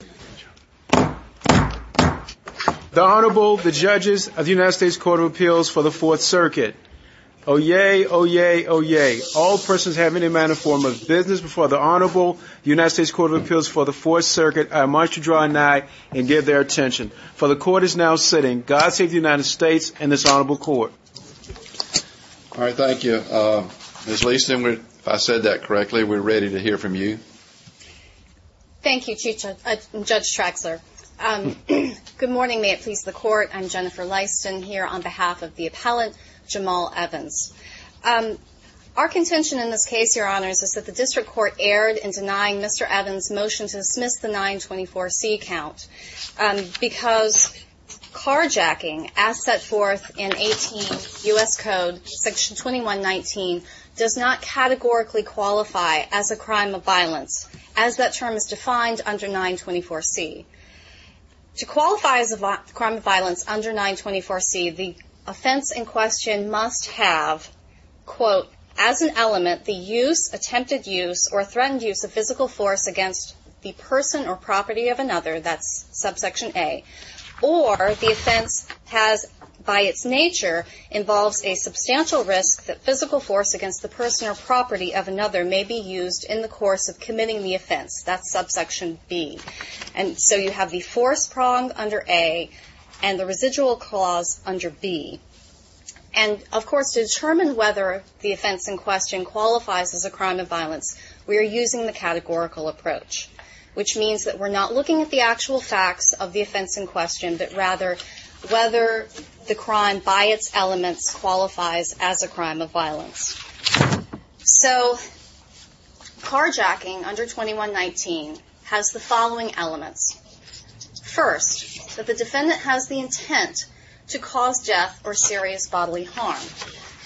The Honorable, the judges of the United States Court of Appeals for the Fourth Circuit. Oyez, oyez, oyez. All persons having any manner or form of business before the Honorable United States Court of Appeals for the Fourth Circuit are admonished to draw an eye and give their attention. For the Court is now sitting. God save the United States and this Honorable Court. All right, thank you. Ms. Leaston, if I said that correctly, we're ready to hear from you. Thank you, Judge Traxler. Good morning, may it please the Court. I'm Jennifer Leaston here on behalf of the appellant, Jamaal Evans. Our contention in this case, Your Honors, is that the district court erred in denying Mr. Evans' motion to dismiss the 924C count because carjacking, as set forth in 18 U.S. Code, Section 2119, does not categorically qualify as a crime of violence. As that term is defined under 924C. To qualify as a crime of violence under 924C, the offense in question must have, quote, as an element, the use, attempted use, or threatened use of physical force against the person or property of another. That's subsection A. Or, the offense has, by its nature, involves a substantial risk that physical force against the person or property of another may be used in the course of committing the offense. That's subsection B. And so you have the force pronged under A and the residual clause under B. And, of course, to determine whether the offense in question qualifies as a crime of violence, we are using the categorical approach, which means that we're not looking at the actual facts of the offense in question, but rather whether the crime by its elements qualifies as a crime of violence. So, carjacking under 2119 has the following elements. First, that the defendant has the intent to cause death or serious bodily harm.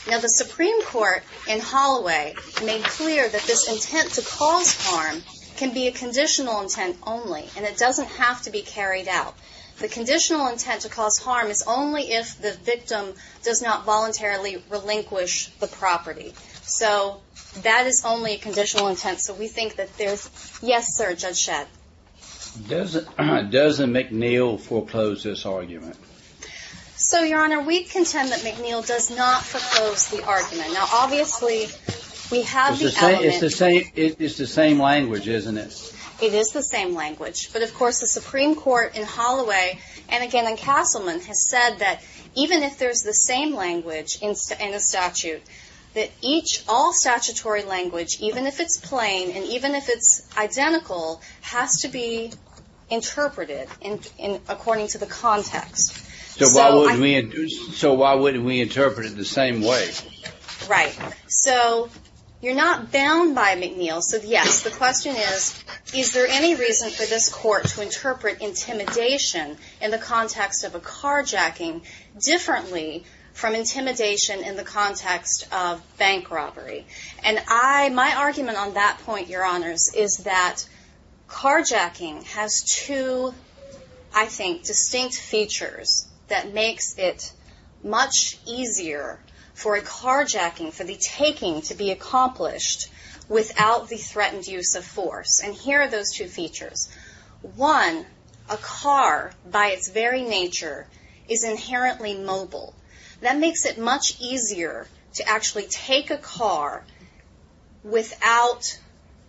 Now, the Supreme Court in Holloway made clear that this intent to cause harm can be a conditional intent only, and it doesn't have to be carried out. The conditional intent to cause harm is only if the victim does not voluntarily relinquish the property. So, that is only a conditional intent. So we think that there's, yes, sir, Judge Shedd. Doesn't McNeil foreclose this argument? So, Your Honor, we contend that McNeil does not foreclose the argument. Now, obviously, we have the element. It's the same language, isn't it? It is the same language. But, of course, the Supreme Court in Holloway, and again in Castleman, has said that even if there's the same language in a statute, that each all statutory language, even if it's plain and even if it's identical, has to be interpreted according to the context. So why wouldn't we interpret it the same way? Right. So, you're not bound by McNeil. So, yes, the question is, is there any reason for this court to interpret intimidation in the context of a carjacking differently from intimidation in the context of bank robbery? And I, my argument on that point, Your Honors, is that carjacking has two, I think, distinct features that makes it much easier for a carjacking, for the taking to be accomplished without the threatened use of force. And here are those two features. One, a car, by its very nature, is inherently mobile. That makes it much easier to actually take a car without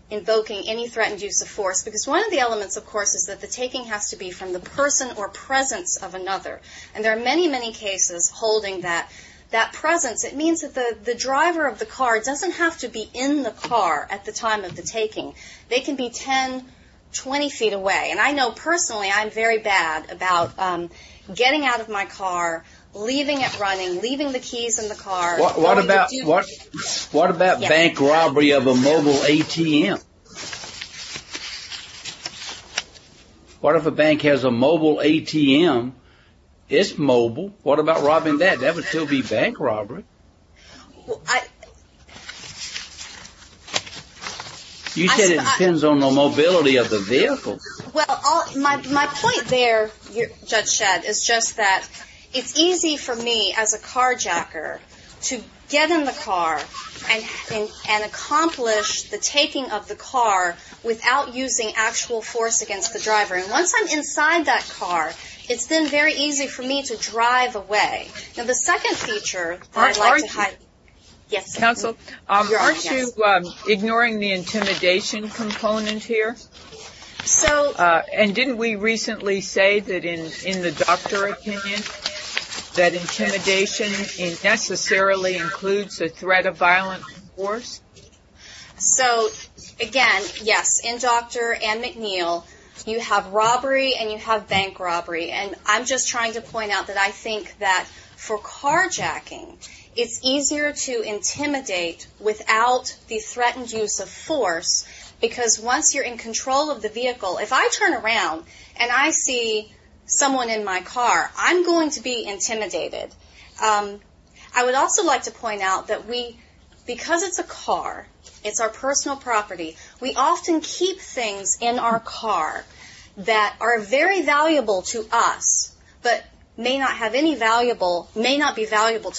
invoking any threatened use of force. Because one of the elements, of course, is that the taking has to be from the person or presence of another. And there are many, many cases holding that presence. It means that the driver of the car doesn't have to be in the car at the time of the taking. They can be 10, 20 feet away. And I know personally I'm very bad about getting out of my car, leaving it running, leaving the keys in the car. What about bank robbery of a mobile ATM? What if a bank has a mobile ATM? It's mobile. What about robbing that? That would still be bank robbery. You said it depends on the mobility of the vehicle. Well, my point there, Judge Shadd, is just that it's easy for me as a carjacker to get in the car and accomplish the taking of the car without using actual force against the driver. And once I'm inside that car, it's then very easy for me to drive away. Now, the second feature that I'd like to highlight... Aren't you ignoring the intimidation component here? So... And didn't we recently say that in the doctor opinion, that intimidation necessarily includes the threat of violent force? So, again, yes. In Dr. Anne McNeil, you have robbery and you have bank robbery. And I'm just trying to point out that I think that for carjacking, it's easier to intimidate without the threatened use of force because once you're in control of the vehicle... If I turn around and I see someone in my car, I'm going to be intimidated. I would also like to point out that because it's a car, it's our personal property, we often keep things in our car that are very valuable to us but may not be valuable to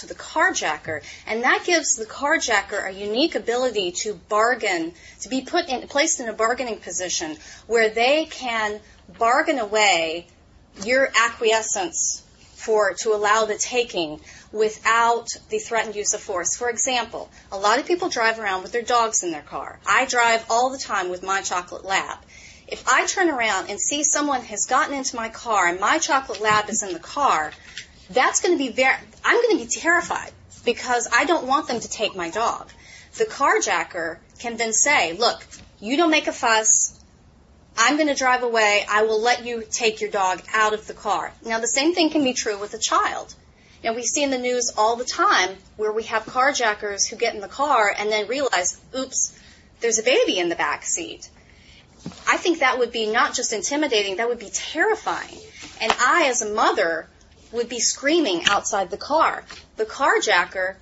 the carjacker. And that gives the carjacker a unique ability to be placed in a bargaining position where they can bargain away your acquiescence to allow the taking without the threatened use of force. For example, a lot of people drive around with their dogs in their car. I drive all the time with my chocolate lab. If I turn around and see someone has gotten into my car and my chocolate lab is in the car, I'm going to be terrified because I don't want them to take my dog. The carjacker can then say, look, you don't make a fuss. I'm going to drive away. I will let you take your dog out of the car. Now, the same thing can be true with a child. Now, we see in the news all the time where we have carjackers who get in the car and then realize, oops, there's a baby in the backseat. I think that would be not just intimidating, that would be terrifying. And I, as a mother, would be screaming outside the car. The carjacker,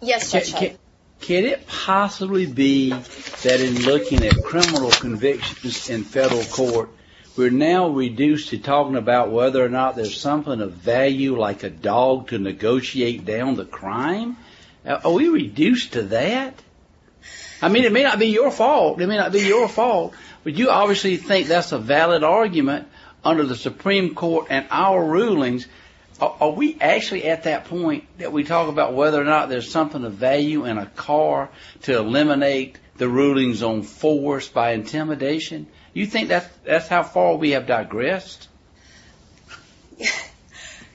yes, Chet. Can it possibly be that in looking at criminal convictions in federal court, we're now reduced to talking about whether or not there's something of value like a dog to negotiate down the crime? Are we reduced to that? I mean, it may not be your fault. It may not be your fault. But you obviously think that's a valid argument under the Supreme Court and our rulings. Are we actually at that point that we talk about whether or not there's something of value in a car to eliminate the rulings on force by intimidation? You think that's how far we have digressed?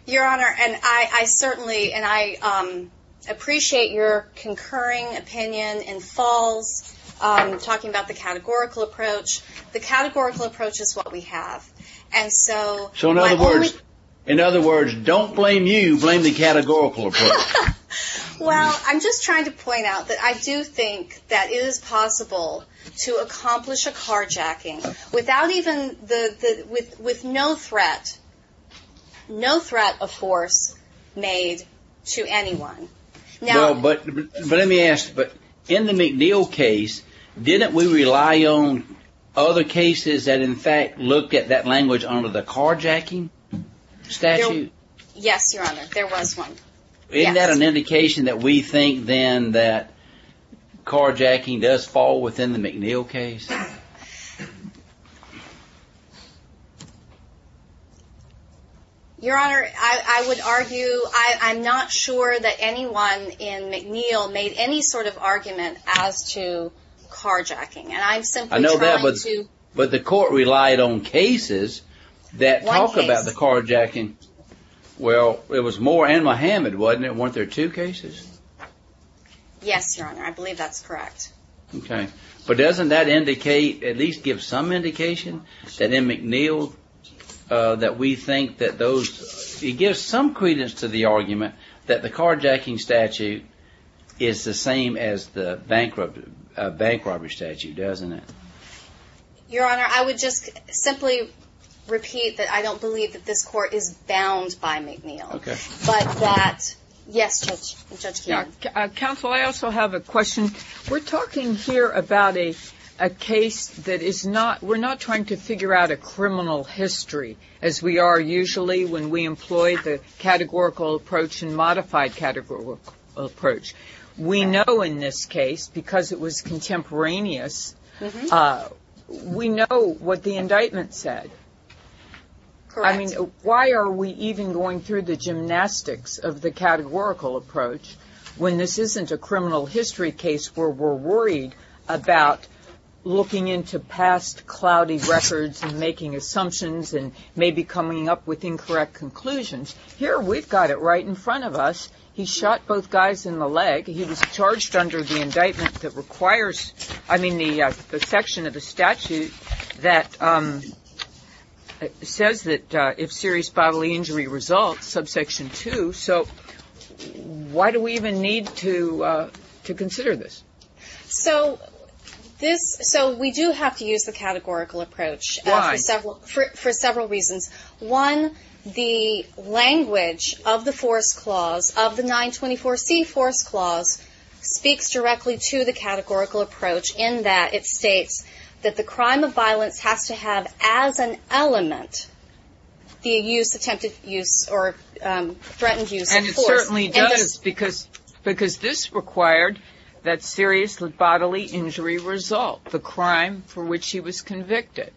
Your Honor, and I certainly and I appreciate your concurring opinion and false, talking about the categorical approach. The categorical approach is what we have. And so, in other words, don't blame you, blame the categorical approach. Well, I'm just trying to point out that I do think that it is possible to accomplish a carjacking without even the, with no threat, no threat of force made to anyone. But let me ask, but in the McNeil case, didn't we rely on other cases that in fact looked at that language under the carjacking statute? Yes, Your Honor, there was one. Isn't that an indication that we think then that carjacking does fall within the McNeil case? Your Honor, I would argue, I'm not sure that anyone in McNeil made any sort of argument as to carjacking. And I'm simply trying to... I know that, but the court relied on cases that talk about the carjacking. Well, it was Moore and Muhammad, wasn't it? Weren't there two cases? Yes, Your Honor. I believe that's correct. Okay. But doesn't that indicate, at least give some indication, that in McNeil that we think that those, it gives some credence to the argument that the carjacking statute is the same as the bank robbery statute, doesn't it? Your Honor, I would just simply repeat that I don't believe that this court is bound by McNeil. Okay. But that, yes, Judge Keene. Counsel, I also have a question. We're talking here about a case that is not, we're not trying to figure out a criminal history, as we are usually when we employ the categorical approach and modified categorical approach. We know in this case, because it was contemporaneous, we know what the indictment said. Correct. I mean, why are we even going through the gymnastics of the categorical approach when this isn't a criminal history case where we're worried about looking into past cloudy records and making assumptions and maybe coming up with incorrect conclusions? Here we've got it right in front of us. He shot both guys in the leg. He was charged under the indictment that requires, I mean, the section of the statute that says that if serious bodily injury results, subsection 2. So why do we even need to consider this? So this, so we do have to use the categorical approach. Why? For several reasons. One, the language of the force clause of the 924C force clause speaks directly to the categorical approach in that it states that the crime of violence has to have as an element the use, attempted use, or threatened use of force. And it certainly does because this required that serious bodily injury result, the crime for which he was convicted.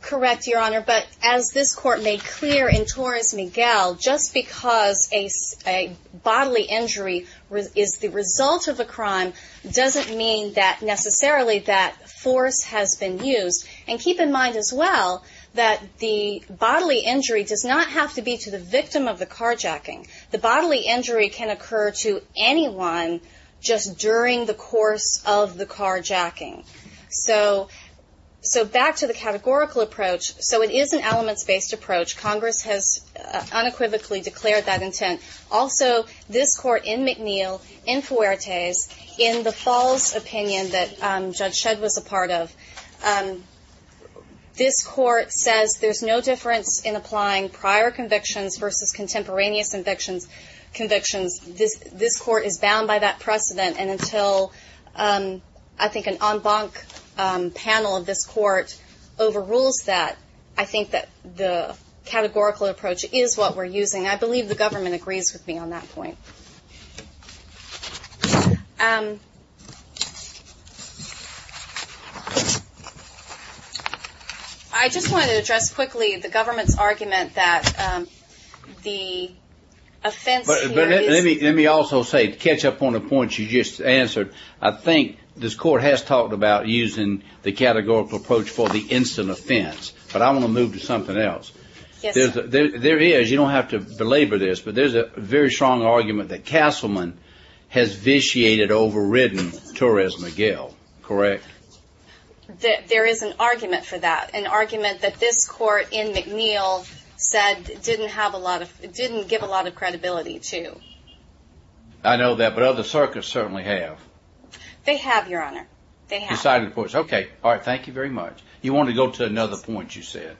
Correct, Your Honor. But as this Court made clear in Torres-Miguel, just because a bodily injury is the result of a crime doesn't mean that necessarily that force has been used. And keep in mind as well that the bodily injury does not have to be to the victim of the carjacking. The bodily injury can occur to anyone just during the course of the carjacking. So back to the categorical approach. So it is an elements-based approach. Congress has unequivocally declared that intent. Also, this Court in McNeil, in Fuertes, in the false opinion that Judge Shedd was a part of, this Court says there's no difference in applying prior convictions versus contemporaneous convictions. This Court is bound by that precedent, and until I think an en banc panel of this Court overrules that, I think that the categorical approach is what we're using. I believe the government agrees with me on that point. I just wanted to address quickly the government's argument that the offense here is... But let me also say, to catch up on the points you just answered, I think this Court has talked about using the categorical approach for the instant offense, but I want to move to something else. Yes, sir. There is, you don't have to belabor this, but there's a very strong argument that Castleman has vitiated overridden Torres-Miguel. Correct? There is an argument for that, an argument that this Court in McNeil said didn't give a lot of credibility to. I know that, but other circuits certainly have. They have, Your Honor. Okay. All right. Thank you very much. You want to go to another point you said?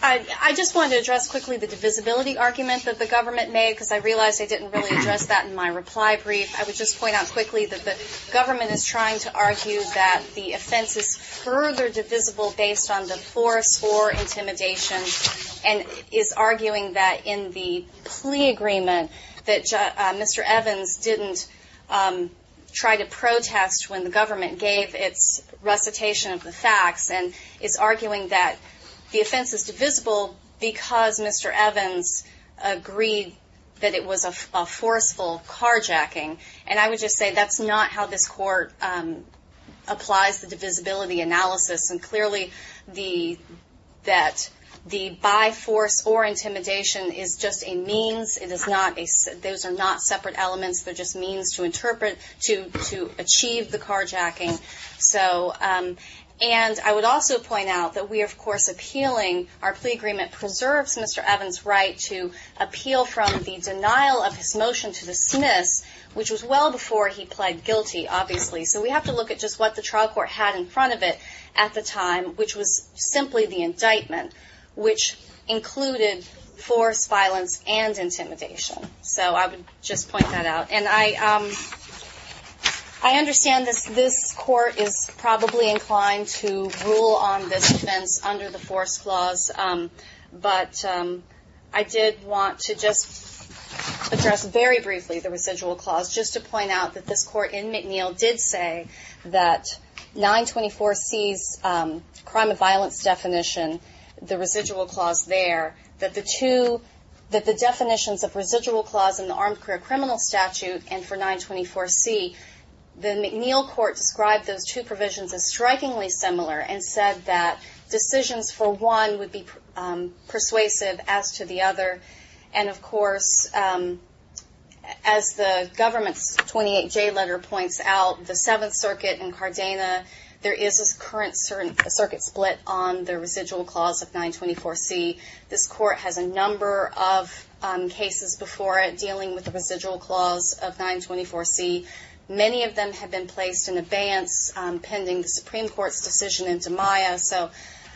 I just wanted to address quickly the divisibility argument that the government made, because I realize I didn't really address that in my reply brief. I would just point out quickly that the government is trying to argue that the offense is further divisible based on divorce or intimidation, and is arguing that in the plea agreement that Mr. Evans didn't try to protest when the government gave its recitation of the facts, and is arguing that the offense is divisible because Mr. Evans agreed that it was a forceful carjacking. And I would just say that's not how this Court applies the divisibility analysis, and clearly that the by force or intimidation is just a means. Those are not separate elements. They're just means to interpret, to achieve the carjacking. And I would also point out that we are, of course, appealing. Our plea agreement preserves Mr. Evans' right to appeal from the denial of his motion to dismiss, which was well before he pled guilty, obviously. So we have to look at just what the trial court had in front of it at the time, which was simply the indictment, which included force, violence, and intimidation. So I would just point that out. And I understand this Court is probably inclined to rule on this offense under the force clause, but I did want to just address very briefly the residual clause, just to point out that this Court in McNeil did say that 924C's crime of violence definition, the residual clause there, that the definitions of residual clause in the Armed Career Criminal Statute and for 924C, the McNeil Court described those two provisions as strikingly similar and said that decisions for one would be persuasive as to the other. And, of course, as the government's 28J letter points out, the Seventh Circuit and Cardena, there is a current circuit split on the residual clause of 924C. This Court has a number of cases before it dealing with the residual clause of 924C. Many of them have been placed in abeyance pending the Supreme Court's decision in DiMaio. So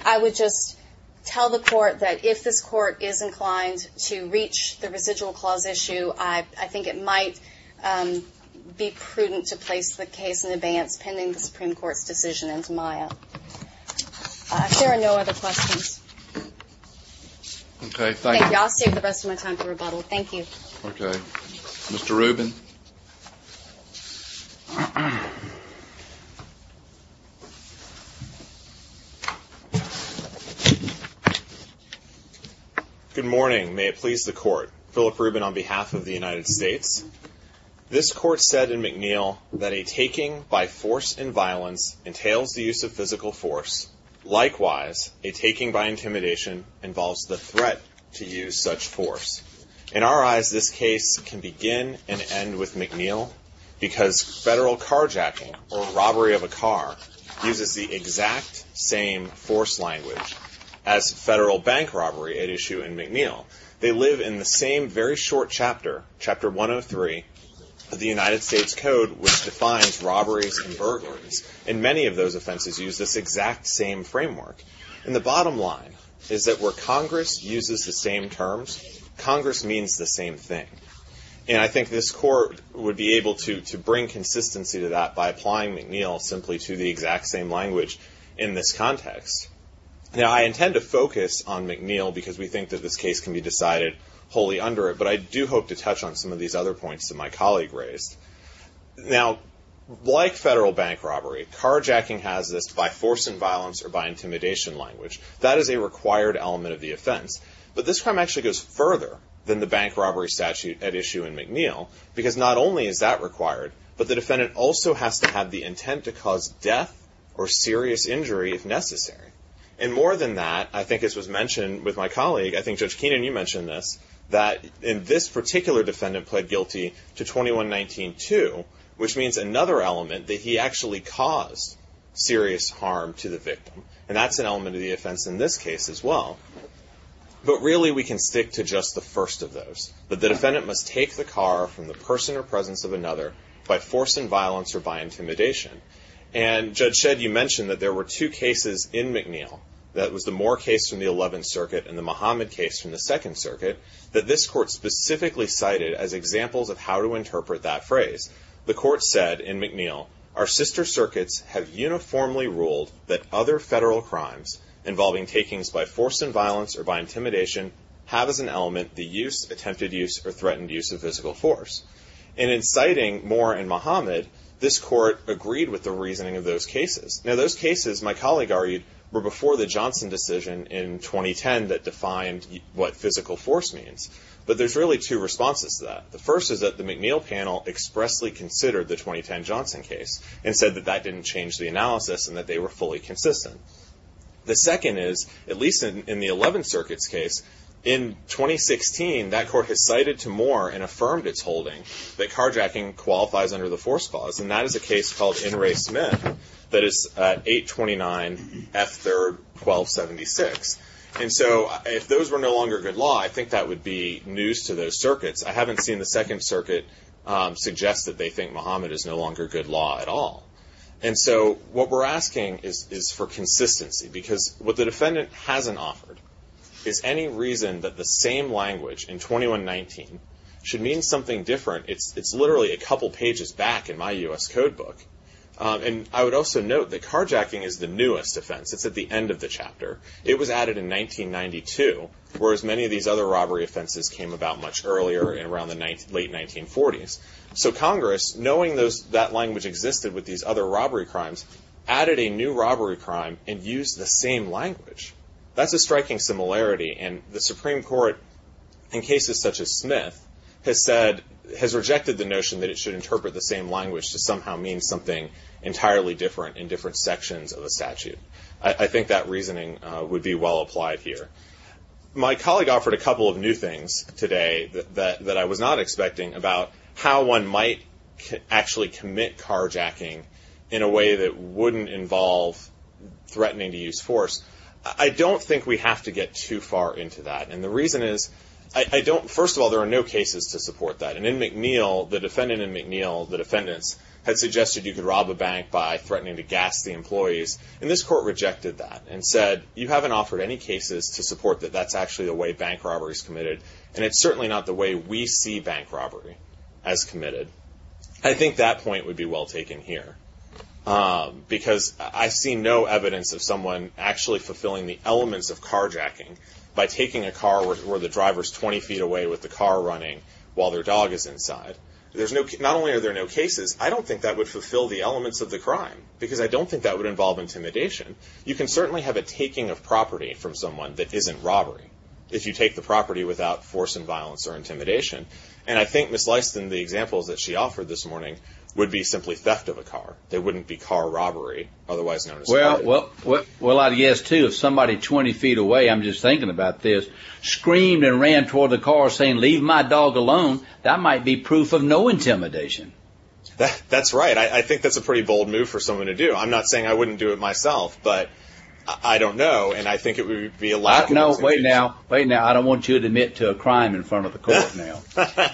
I would just tell the Court that if this Court is inclined to reach the residual clause issue, I think it might be prudent to place the case in abeyance pending the Supreme Court's decision in DiMaio. If there are no other questions. Okay. Thank you. I'll save the rest of my time for rebuttal. Thank you. Okay. Mr. Rubin. Good morning. May it please the Court. Philip Rubin on behalf of the United States. This Court said in McNeil that a taking by force and violence entails the use of physical force. Likewise, a taking by intimidation involves the threat to use such force. In our eyes, this case can begin and end with McNeil because federal carjacking or robbery of a car uses the exact same force language as federal bank robbery at issue in McNeil. They live in the same very short chapter, Chapter 103 of the United States Code, which defines robberies and burglaries. And many of those offenses use this exact same framework. And the bottom line is that where Congress uses the same terms, Congress means the same thing. And I think this Court would be able to bring consistency to that by applying McNeil simply to the exact same language in this context. Now, I intend to focus on McNeil because we think that this case can be decided wholly under it, but I do hope to touch on some of these other points that my colleague raised. Now, like federal bank robbery, carjacking has this by force and violence or by intimidation language. That is a required element of the offense. But this crime actually goes further than the bank robbery statute at issue in McNeil because not only is that required, but the defendant also has to have the intent to cause death or serious injury if necessary. And more than that, I think as was mentioned with my colleague, I think Judge Keenan, you mentioned this, that in this particular defendant pled guilty to 2119-2, which means another element that he actually caused serious harm to the victim. And that's an element of the offense in this case as well. But really, we can stick to just the first of those, that the defendant must take the car from the person or presence of another by force and violence or by intimidation. And, Judge Shedd, you mentioned that there were two cases in McNeil. That was the Moore case from the 11th Circuit and the Muhammad case from the 2nd Circuit that this court specifically cited as examples of how to interpret that phrase. The court said in McNeil, Our sister circuits have uniformly ruled that other federal crimes involving takings by force and violence or by intimidation have as an element the use, attempted use, or threatened use of physical force. And in citing Moore and Muhammad, this court agreed with the reasoning of those cases. Now those cases, my colleague argued, were before the Johnson decision in 2010 that defined what physical force means. But there's really two responses to that. The first is that the McNeil panel expressly considered the 2010 Johnson case and said that that didn't change the analysis and that they were fully consistent. The second is, at least in the 11th Circuit's case, in 2016, that court has cited to Moore and affirmed its holding that carjacking qualifies under the force clause. And that is a case called In Re Smith that is 829 F 3rd 1276. And so if those were no longer good law, I think that would be news to those circuits. I haven't seen the 2nd Circuit suggest that they think Muhammad is no longer good law at all. And so what we're asking is for consistency. Because what the defendant hasn't offered is any reason that the same language in 2119 should mean something different. It's literally a couple pages back in my U.S. code book. And I would also note that carjacking is the newest offense. It's at the end of the chapter. It was added in 1992, whereas many of these other robbery offenses came about much earlier in around the late 1940s. So Congress, knowing that language existed with these other robbery crimes, added a new robbery crime and used the same language. That's a striking similarity. And the Supreme Court, in cases such as Smith, has rejected the notion that it should interpret the same language to somehow mean something entirely different in different sections of the statute. I think that reasoning would be well applied here. My colleague offered a couple of new things today that I was not expecting about how one might actually commit carjacking in a way that wouldn't involve threatening to use force. I don't think we have to get too far into that. And the reason is, first of all, there are no cases to support that. And in McNeil, the defendant in McNeil, the defendants had suggested you could rob a bank by threatening to gas the employees. And this court rejected that and said, you haven't offered any cases to support that that's actually the way bank robbery is committed. And it's certainly not the way we see bank robbery as committed. I think that point would be well taken here. Because I see no evidence of someone actually fulfilling the elements of carjacking by taking a car where the driver is 20 feet away with the car running while their dog is inside. Not only are there no cases, I don't think that would fulfill the elements of the crime. Because I don't think that would involve intimidation. You can certainly have a taking of property from someone that isn't robbery if you take the property without force and violence or intimidation. And I think, Ms. Lyston, the examples that she offered this morning would be simply theft of a car. They wouldn't be car robbery, otherwise known as robbery. Well, I guess, too, if somebody 20 feet away, I'm just thinking about this, screamed and ran toward the car saying, leave my dog alone, that might be proof of no intimidation. That's right. I think that's a pretty bold move for someone to do. I'm not saying I wouldn't do it myself. But I don't know. And I think it would be a lack of intimidation. No, wait now. Wait now. I don't want you to admit to a crime in front of the court now.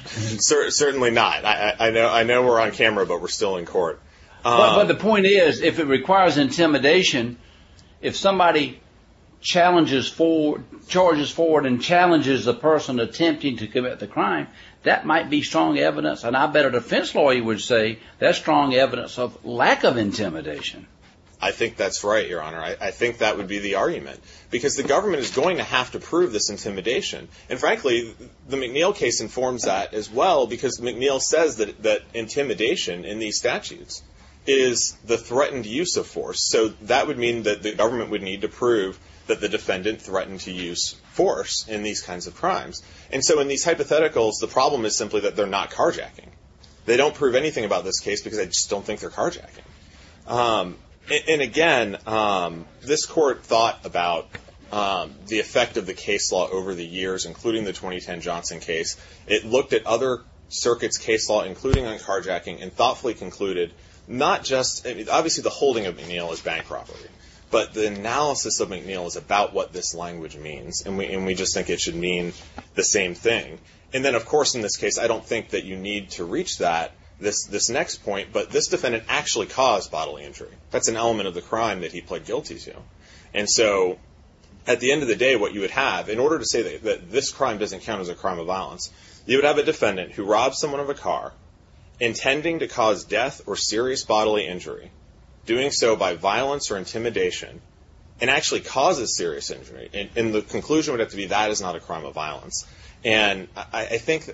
Certainly not. I know we're on camera, but we're still in court. But the point is, if it requires intimidation, if somebody charges forward and challenges the person attempting to commit the crime, that might be strong evidence. And I bet a defense lawyer would say that's strong evidence of lack of intimidation. I think that's right, Your Honor. I think that would be the argument. Because the government is going to have to prove this intimidation. And, frankly, the McNeil case informs that as well because McNeil says that intimidation in these statutes is the threatened use of force. So that would mean that the government would need to prove that the defendant threatened to use force in these kinds of crimes. And so in these hypotheticals, the problem is simply that they're not carjacking. They don't prove anything about this case because they just don't think they're carjacking. And, again, this court thought about the effect of the case law over the years, including the 2010 Johnson case. It looked at other circuits' case law, including on carjacking, and thoughtfully concluded not just – obviously the holding of McNeil is bank robbery, but the analysis of McNeil is about what this language means, and we just think it should mean the same thing. And then, of course, in this case, I don't think that you need to reach this next point, but this defendant actually caused bodily injury. That's an element of the crime that he pled guilty to. And so at the end of the day, what you would have, in order to say that this crime doesn't count as a crime of violence, you would have a defendant who robs someone of a car intending to cause death or serious bodily injury, doing so by violence or intimidation, and actually causes serious injury. And the conclusion would have to be that is not a crime of violence. And I think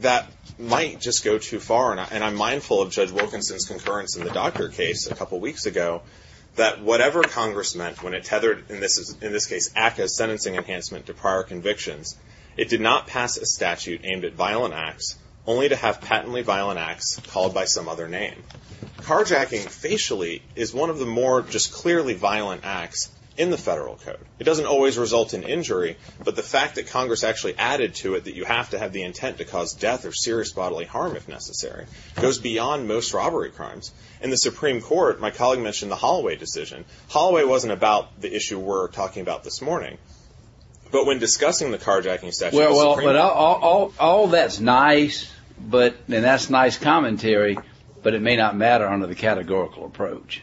that might just go too far, and I'm mindful of Judge Wilkinson's concurrence in the Docker case a couple weeks ago that whatever Congress meant when it tethered, in this case, ACCA's sentencing enhancement to prior convictions, it did not pass a statute aimed at violent acts, only to have patently violent acts called by some other name. Carjacking facially is one of the more just clearly violent acts in the federal code. It doesn't always result in injury, but the fact that Congress actually added to it that you have to have the intent to cause death or serious bodily harm if necessary goes beyond most robbery crimes. In the Supreme Court, my colleague mentioned the Holloway decision. Holloway wasn't about the issue we're talking about this morning, but when discussing the carjacking statute, the Supreme Court and that's nice commentary, but it may not matter under the categorical approach.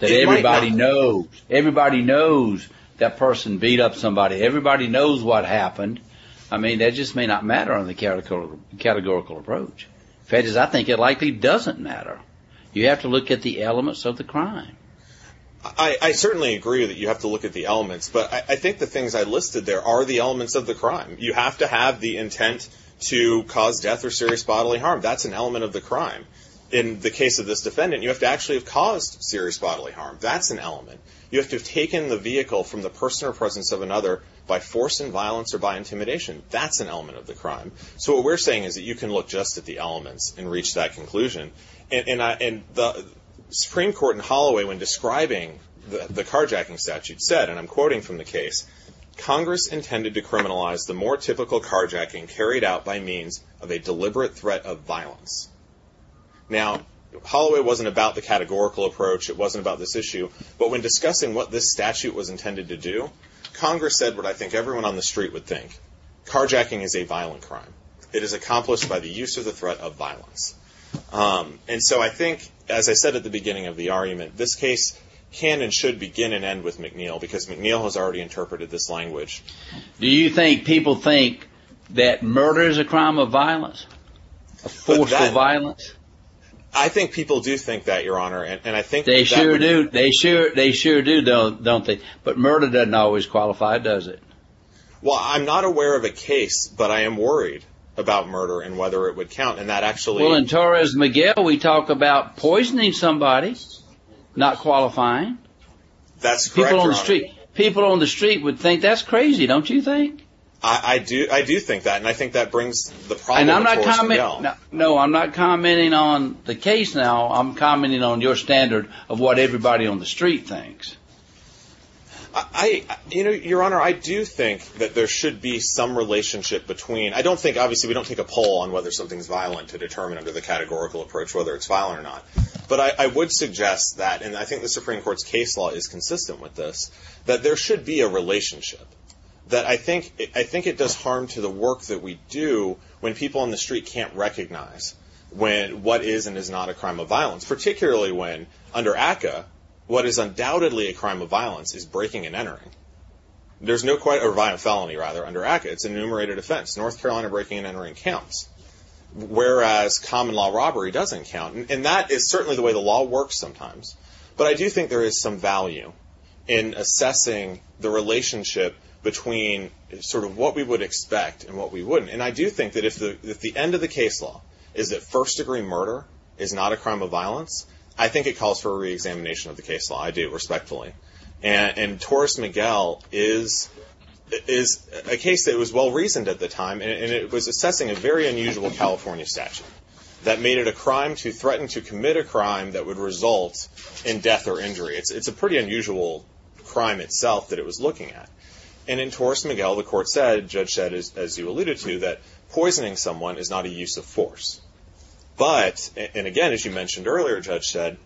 Everybody knows that person beat up somebody. Everybody knows what happened. I mean, that just may not matter under the categorical approach. In fact, I think it likely doesn't matter. You have to look at the elements of the crime. I certainly agree that you have to look at the elements, but I think the things I listed there are the elements of the crime. You have to have the intent to cause death or serious bodily harm. That's an element of the crime. In the case of this defendant, you have to actually have caused serious bodily harm. That's an element. You have to have taken the vehicle from the person or presence of another by force and violence or by intimidation. That's an element of the crime. So what we're saying is that you can look just at the elements and reach that conclusion. And the Supreme Court in Holloway when describing the carjacking statute said, and I'm quoting from the case, Congress intended to criminalize the more typical carjacking carried out by means of a deliberate threat of violence. Now, Holloway wasn't about the categorical approach. It wasn't about this issue. But when discussing what this statute was intended to do, Congress said what I think everyone on the street would think. Carjacking is a violent crime. It is accomplished by the use of the threat of violence. And so I think, as I said at the beginning of the argument, this case can and should begin and end with McNeil because McNeil has already interpreted this language. Do you think people think that murder is a crime of violence, a forceful violence? I think people do think that, Your Honor. And I think they sure do. They sure do, don't they? But murder doesn't always qualify, does it? Well, I'm not aware of a case, but I am worried about murder and whether it would count. And that actually – Well, in Torres-Miguel, we talk about poisoning somebody, not qualifying. That's correct, Your Honor. People on the street would think that's crazy, don't you think? I do think that, and I think that brings the problem to Torres-Miguel. No, I'm not commenting on the case now. I'm commenting on your standard of what everybody on the street thinks. I – you know, Your Honor, I do think that there should be some relationship between – I don't think – obviously, we don't take a poll on whether something is violent to determine under the categorical approach whether it's violent or not. But I would suggest that, and I think the Supreme Court's case law is consistent with this, that there should be a relationship. That I think it does harm to the work that we do when people on the street can't recognize what is and is not a crime of violence, particularly when, under ACCA, what is undoubtedly a crime of violence is breaking and entering. There's no quite – or felony, rather, under ACCA. It's an enumerated offense. North Carolina breaking and entering counts, whereas common law robbery doesn't count. And that is certainly the way the law works sometimes. But I do think there is some value in assessing the relationship between sort of what we would expect and what we wouldn't. And I do think that if the end of the case law is that first-degree murder is not a crime of violence, I think it calls for a reexamination of the case law. I do, respectfully. And Torres-Miguel is a case that was well-reasoned at the time, and it was assessing a very unusual California statute that made it a crime to threaten to commit a crime that would result in death or injury. It's a pretty unusual crime itself that it was looking at. And in Torres-Miguel, the court said, Judge Shedd, as you alluded to, that poisoning someone is not a use of force. But, and again, as you mentioned earlier, Judge Shedd,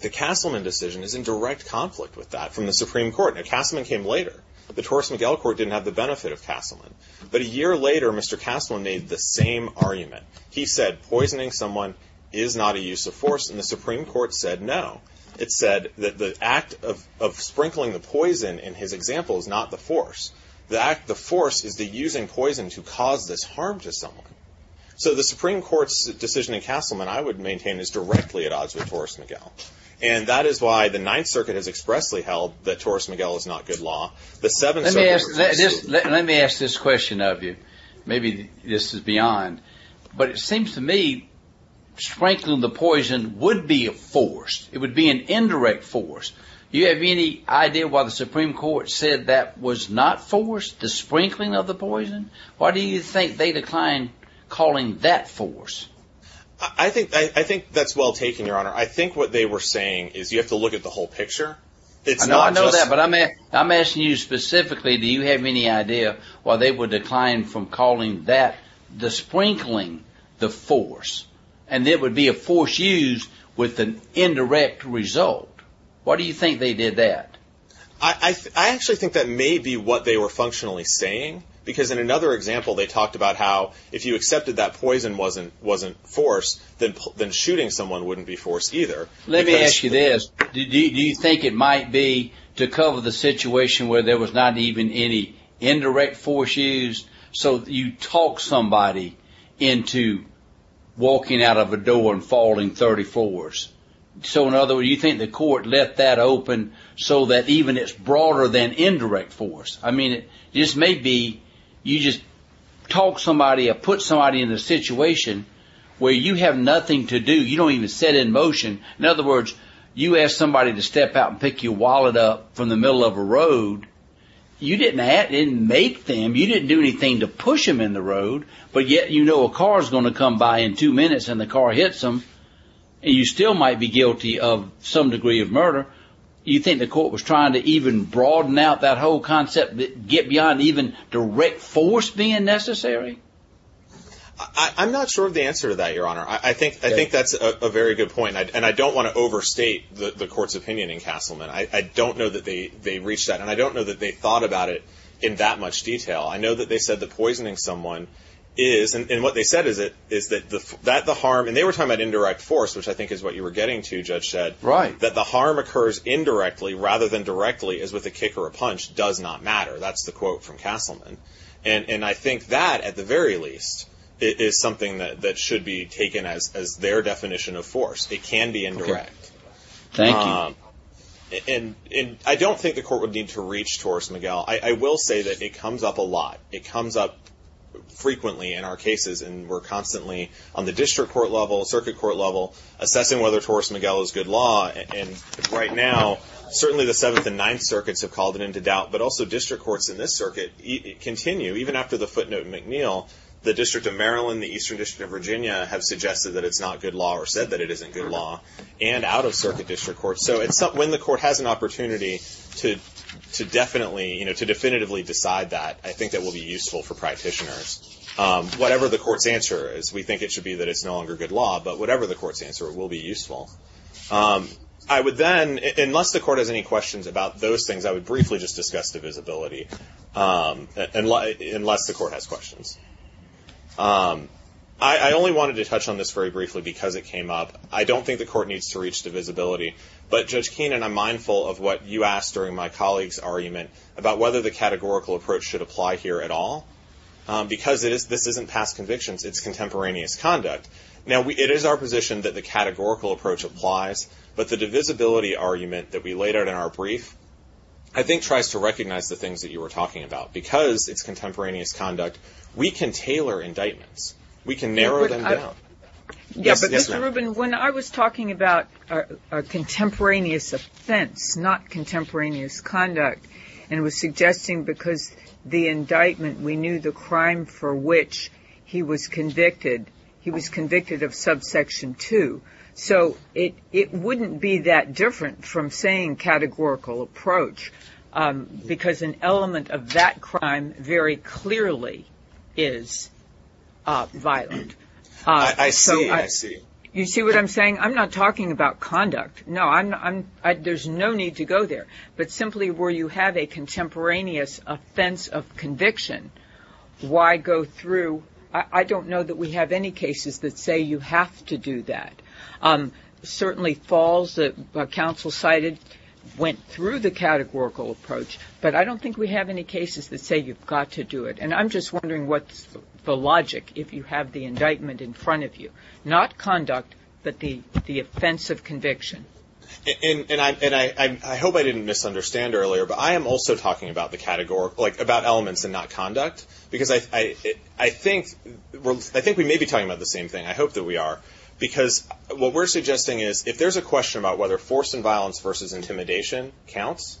the Castleman decision is in direct conflict with that from the Supreme Court. Now, Castleman came later. The Torres-Miguel court didn't have the benefit of Castleman. But a year later, Mr. Castleman made the same argument. He said poisoning someone is not a use of force, and the Supreme Court said no. It said that the act of sprinkling the poison in his example is not the force. The force is the using poison to cause this harm to someone. So the Supreme Court's decision in Castleman, I would maintain, is directly at odds with Torres-Miguel. And that is why the Ninth Circuit has expressly held that Torres-Miguel is not good law. Let me ask this question of you. Maybe this is beyond, but it seems to me sprinkling the poison would be a force. It would be an indirect force. Do you have any idea why the Supreme Court said that was not force, the sprinkling of the poison? Why do you think they declined calling that force? I think that's well taken, Your Honor. I think what they were saying is you have to look at the whole picture. I know that, but I'm asking you specifically, do you have any idea why they would decline from calling that, the sprinkling, the force, and it would be a force used with an indirect result? Why do you think they did that? I actually think that may be what they were functionally saying, because in another example they talked about how if you accepted that poison wasn't force, then shooting someone wouldn't be force either. Let me ask you this. Do you think it might be to cover the situation where there was not even any indirect force used? So you talk somebody into walking out of a door and falling 30 floors. So in other words, you think the court left that open so that even it's broader than indirect force? I mean, this may be you just talk somebody or put somebody in a situation where you have nothing to do. You don't even set in motion. In other words, you ask somebody to step out and pick your wallet up from the middle of a road. You didn't make them. You didn't do anything to push them in the road, but yet you know a car is going to come by in two minutes and the car hits them, and you still might be guilty of some degree of murder. You think the court was trying to even broaden out that whole concept, get beyond even direct force being necessary? I'm not sure of the answer to that, Your Honor. I think that's a very good point, and I don't want to overstate the court's opinion in Castleman. I don't know that they reached that, and I don't know that they thought about it in that much detail. I know that they said that poisoning someone is, and what they said is that the harm, and they were talking about indirect force, which I think is what you were getting to, Judge Shedd. Right. That the harm occurs indirectly rather than directly as with a kick or a punch does not matter. That's the quote from Castleman. And I think that, at the very least, is something that should be taken as their definition of force. It can be indirect. Thank you. And I don't think the court would need to reach Torres-Miguel. I will say that it comes up a lot. It comes up frequently in our cases, and we're constantly on the district court level, circuit court level, assessing whether Torres-Miguel is good law. And right now, certainly the Seventh and Ninth Circuits have called it into doubt, but also district courts in this circuit continue, even after the footnote in McNeil, the District of Maryland and the Eastern District of Virginia have suggested that it's not good law or said that it isn't good law, and out-of-circuit district courts. So when the court has an opportunity to definitively decide that, I think that will be useful for practitioners. Whatever the court's answer is, we think it should be that it's no longer good law, but whatever the court's answer, it will be useful. I would then, unless the court has any questions about those things, I would briefly just discuss divisibility, unless the court has questions. I only wanted to touch on this very briefly because it came up. I don't think the court needs to reach divisibility, but Judge Keenan, I'm mindful of what you asked during my colleague's argument about whether the categorical approach should apply here at all, because this isn't past convictions. It's contemporaneous conduct. Now, it is our position that the categorical approach applies, but the divisibility argument that we laid out in our brief, I think, tries to recognize the things that you were talking about. Because it's contemporaneous conduct, we can tailor indictments. We can narrow them down. Yeah, but Mr. Rubin, when I was talking about a contemporaneous offense, not contemporaneous conduct, and was suggesting because the indictment, we knew the crime for which he was convicted, he was convicted of subsection 2. So it wouldn't be that different from saying categorical approach, because an element of that crime very clearly is violent. I see, I see. You see what I'm saying? I'm not talking about conduct. No, there's no need to go there. But simply where you have a contemporaneous offense of conviction, why go through? I don't know that we have any cases that say you have to do that. Certainly falls, the counsel cited, went through the categorical approach, but I don't think we have any cases that say you've got to do it. And I'm just wondering what's the logic if you have the indictment in front of you. Not conduct, but the offense of conviction. And I hope I didn't misunderstand earlier, but I am also talking about the categorical, like about elements and not conduct. Because I think we may be talking about the same thing. I hope that we are. Because what we're suggesting is, if there's a question about whether force and violence versus intimidation counts,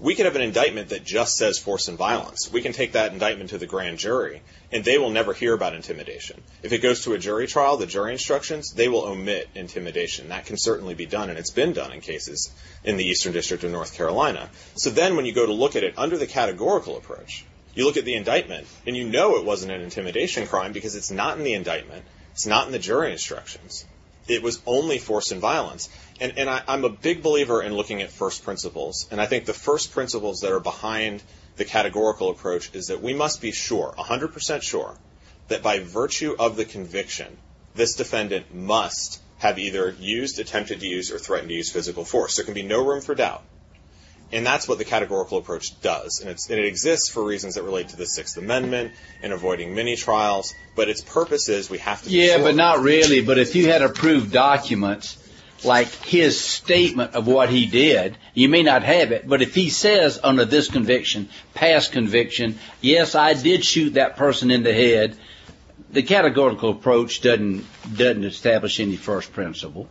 we could have an indictment that just says force and violence. We can take that indictment to the grand jury, and they will never hear about intimidation. If it goes to a jury trial, the jury instructions, they will omit intimidation. That can certainly be done, and it's been done in cases in the Eastern District of North Carolina. So then when you go to look at it under the categorical approach, you look at the indictment, and you know it wasn't an intimidation crime because it's not in the indictment. It's not in the jury instructions. It was only force and violence. And I'm a big believer in looking at first principles, and I think the first principles that are behind the categorical approach is that we must be sure, 100 percent sure, that by virtue of the conviction, this defendant must have either used, attempted to use, or threatened to use physical force. There can be no room for doubt. And that's what the categorical approach does. And it exists for reasons that relate to the Sixth Amendment and avoiding many trials. But its purpose is we have to be sure. Yeah, but not really. But if you had approved documents like his statement of what he did, you may not have it. But if he says under this conviction, past conviction, yes, I did shoot that person in the head, the categorical approach doesn't establish any first principle.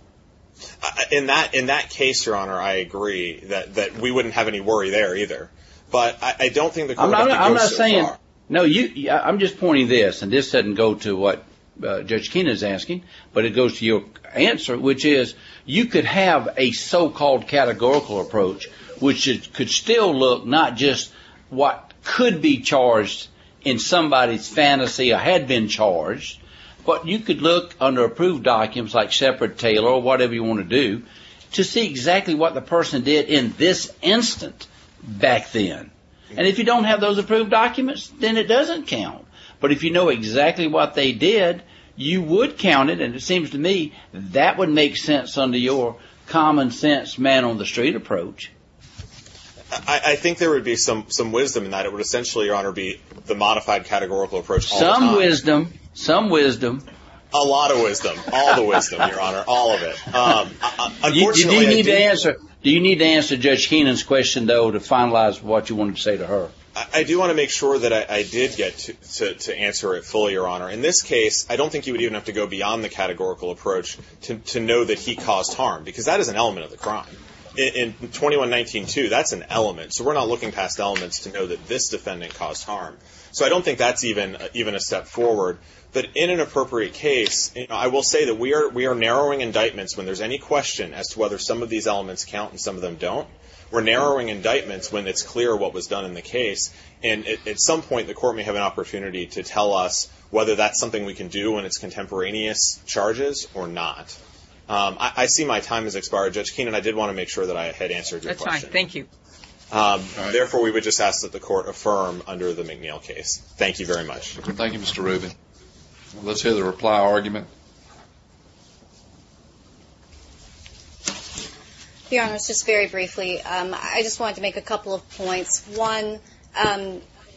In that case, Your Honor, I agree that we wouldn't have any worry there either. But I don't think the court would go so far. I'm not saying no. I'm just pointing this, and this doesn't go to what Judge Keenan is asking, but it goes to your answer, which is you could have a so-called categorical approach, which could still look not just what could be charged in somebody's fantasy or had been charged, but you could look under approved documents like separate Taylor or whatever you want to do to see exactly what the person did in this instant back then. And if you don't have those approved documents, then it doesn't count. But if you know exactly what they did, you would count it. And it seems to me that would make sense under your common-sense man-on-the-street approach. I think there would be some wisdom in that. It would essentially, Your Honor, be the modified categorical approach all the time. Some wisdom, some wisdom. A lot of wisdom, all the wisdom, Your Honor, all of it. Do you need to answer Judge Keenan's question, though, to finalize what you want to say to her? I do want to make sure that I did get to answer it fully, Your Honor. In this case, I don't think you would even have to go beyond the categorical approach to know that he caused harm because that is an element of the crime. In 21-19-2, that's an element. So we're not looking past elements to know that this defendant caused harm. So I don't think that's even a step forward. But in an appropriate case, I will say that we are narrowing indictments when there's any question as to whether some of these elements count and some of them don't. We're narrowing indictments when it's clear what was done in the case. And at some point, the Court may have an opportunity to tell us whether that's something we can do in its contemporaneous charges or not. I see my time has expired. Judge Keenan, I did want to make sure that I had answered your question. That's fine. Thank you. Therefore, we would just ask that the Court affirm under the McNeil case. Thank you very much. Thank you, Mr. Rubin. Let's hear the reply argument. Your Honor, just very briefly, I just wanted to make a couple of points. One,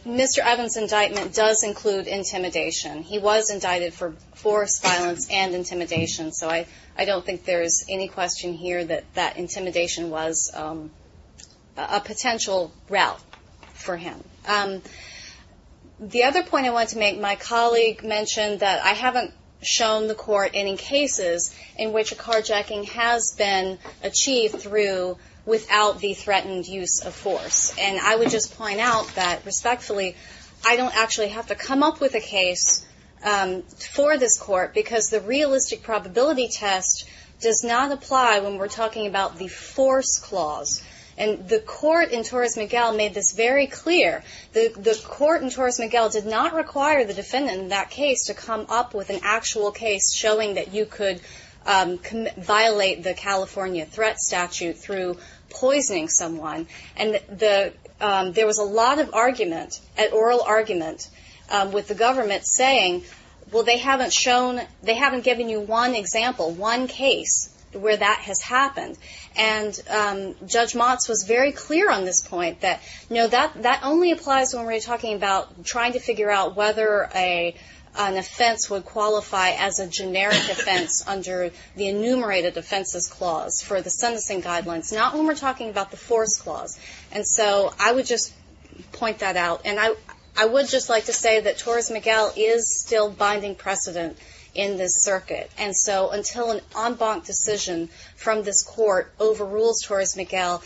Mr. Evans' indictment does include intimidation. He was indicted for forced violence and intimidation, so I don't think there is any question here that that intimidation was a potential route for him. The other point I wanted to make, my colleague mentioned that I haven't shown the Court any cases in which a carjacking has been achieved through without the threatened use of force. And I would just point out that, respectfully, I don't actually have to come up with a case for this Court because the realistic probability test does not apply when we're talking about the force clause. And the Court in Torres Miguel made this very clear. The Court in Torres Miguel did not require the defendant in that case to come up with an actual case showing that you could violate the California threat statute through poisoning someone. And there was a lot of argument, oral argument, with the government saying, well, they haven't shown, they haven't given you one example, one case where that has happened. And Judge Motz was very clear on this point that, no, that only applies when we're talking about trying to figure out whether an offense would qualify as a generic offense under the enumerated offenses clause for the sentencing guidelines, not when we're talking about the force clause. And so I would just point that out. And I would just like to say that Torres Miguel is still binding precedent in this circuit. And so until an en banc decision from this Court overrules Torres Miguel,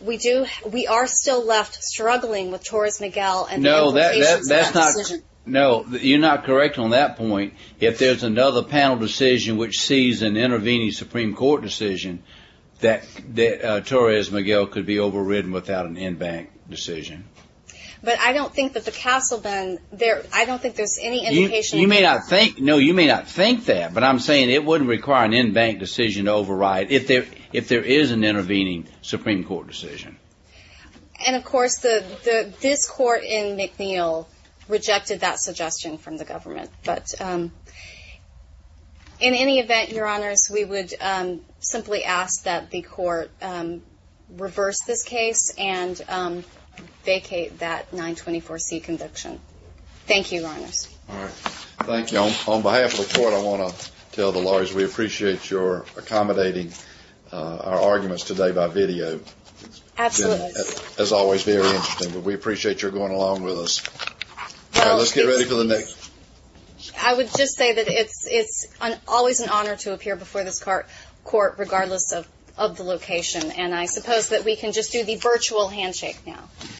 we are still left struggling with Torres Miguel and the implications of that decision. No, you're not correct on that point. If there's another panel decision which sees an intervening Supreme Court decision, that Torres Miguel could be overridden without an en banc decision. But I don't think that the Castle Bend, I don't think there's any implication. You may not think that, but I'm saying it wouldn't require an en banc decision to override if there is an intervening Supreme Court decision. And, of course, this Court in McNeil rejected that suggestion from the government. But in any event, Your Honors, we would simply ask that the Court reverse this case and vacate that 924C conviction. Thank you, Your Honors. All right. Thank you. On behalf of the Court, I want to tell the lawyers we appreciate your accommodating our arguments today by video. Absolutely. As always, very interesting. We appreciate your going along with us. Let's get ready for the next. I would just say that it's always an honor to appear before this Court regardless of the location. And I suppose that we can just do the virtual handshake now.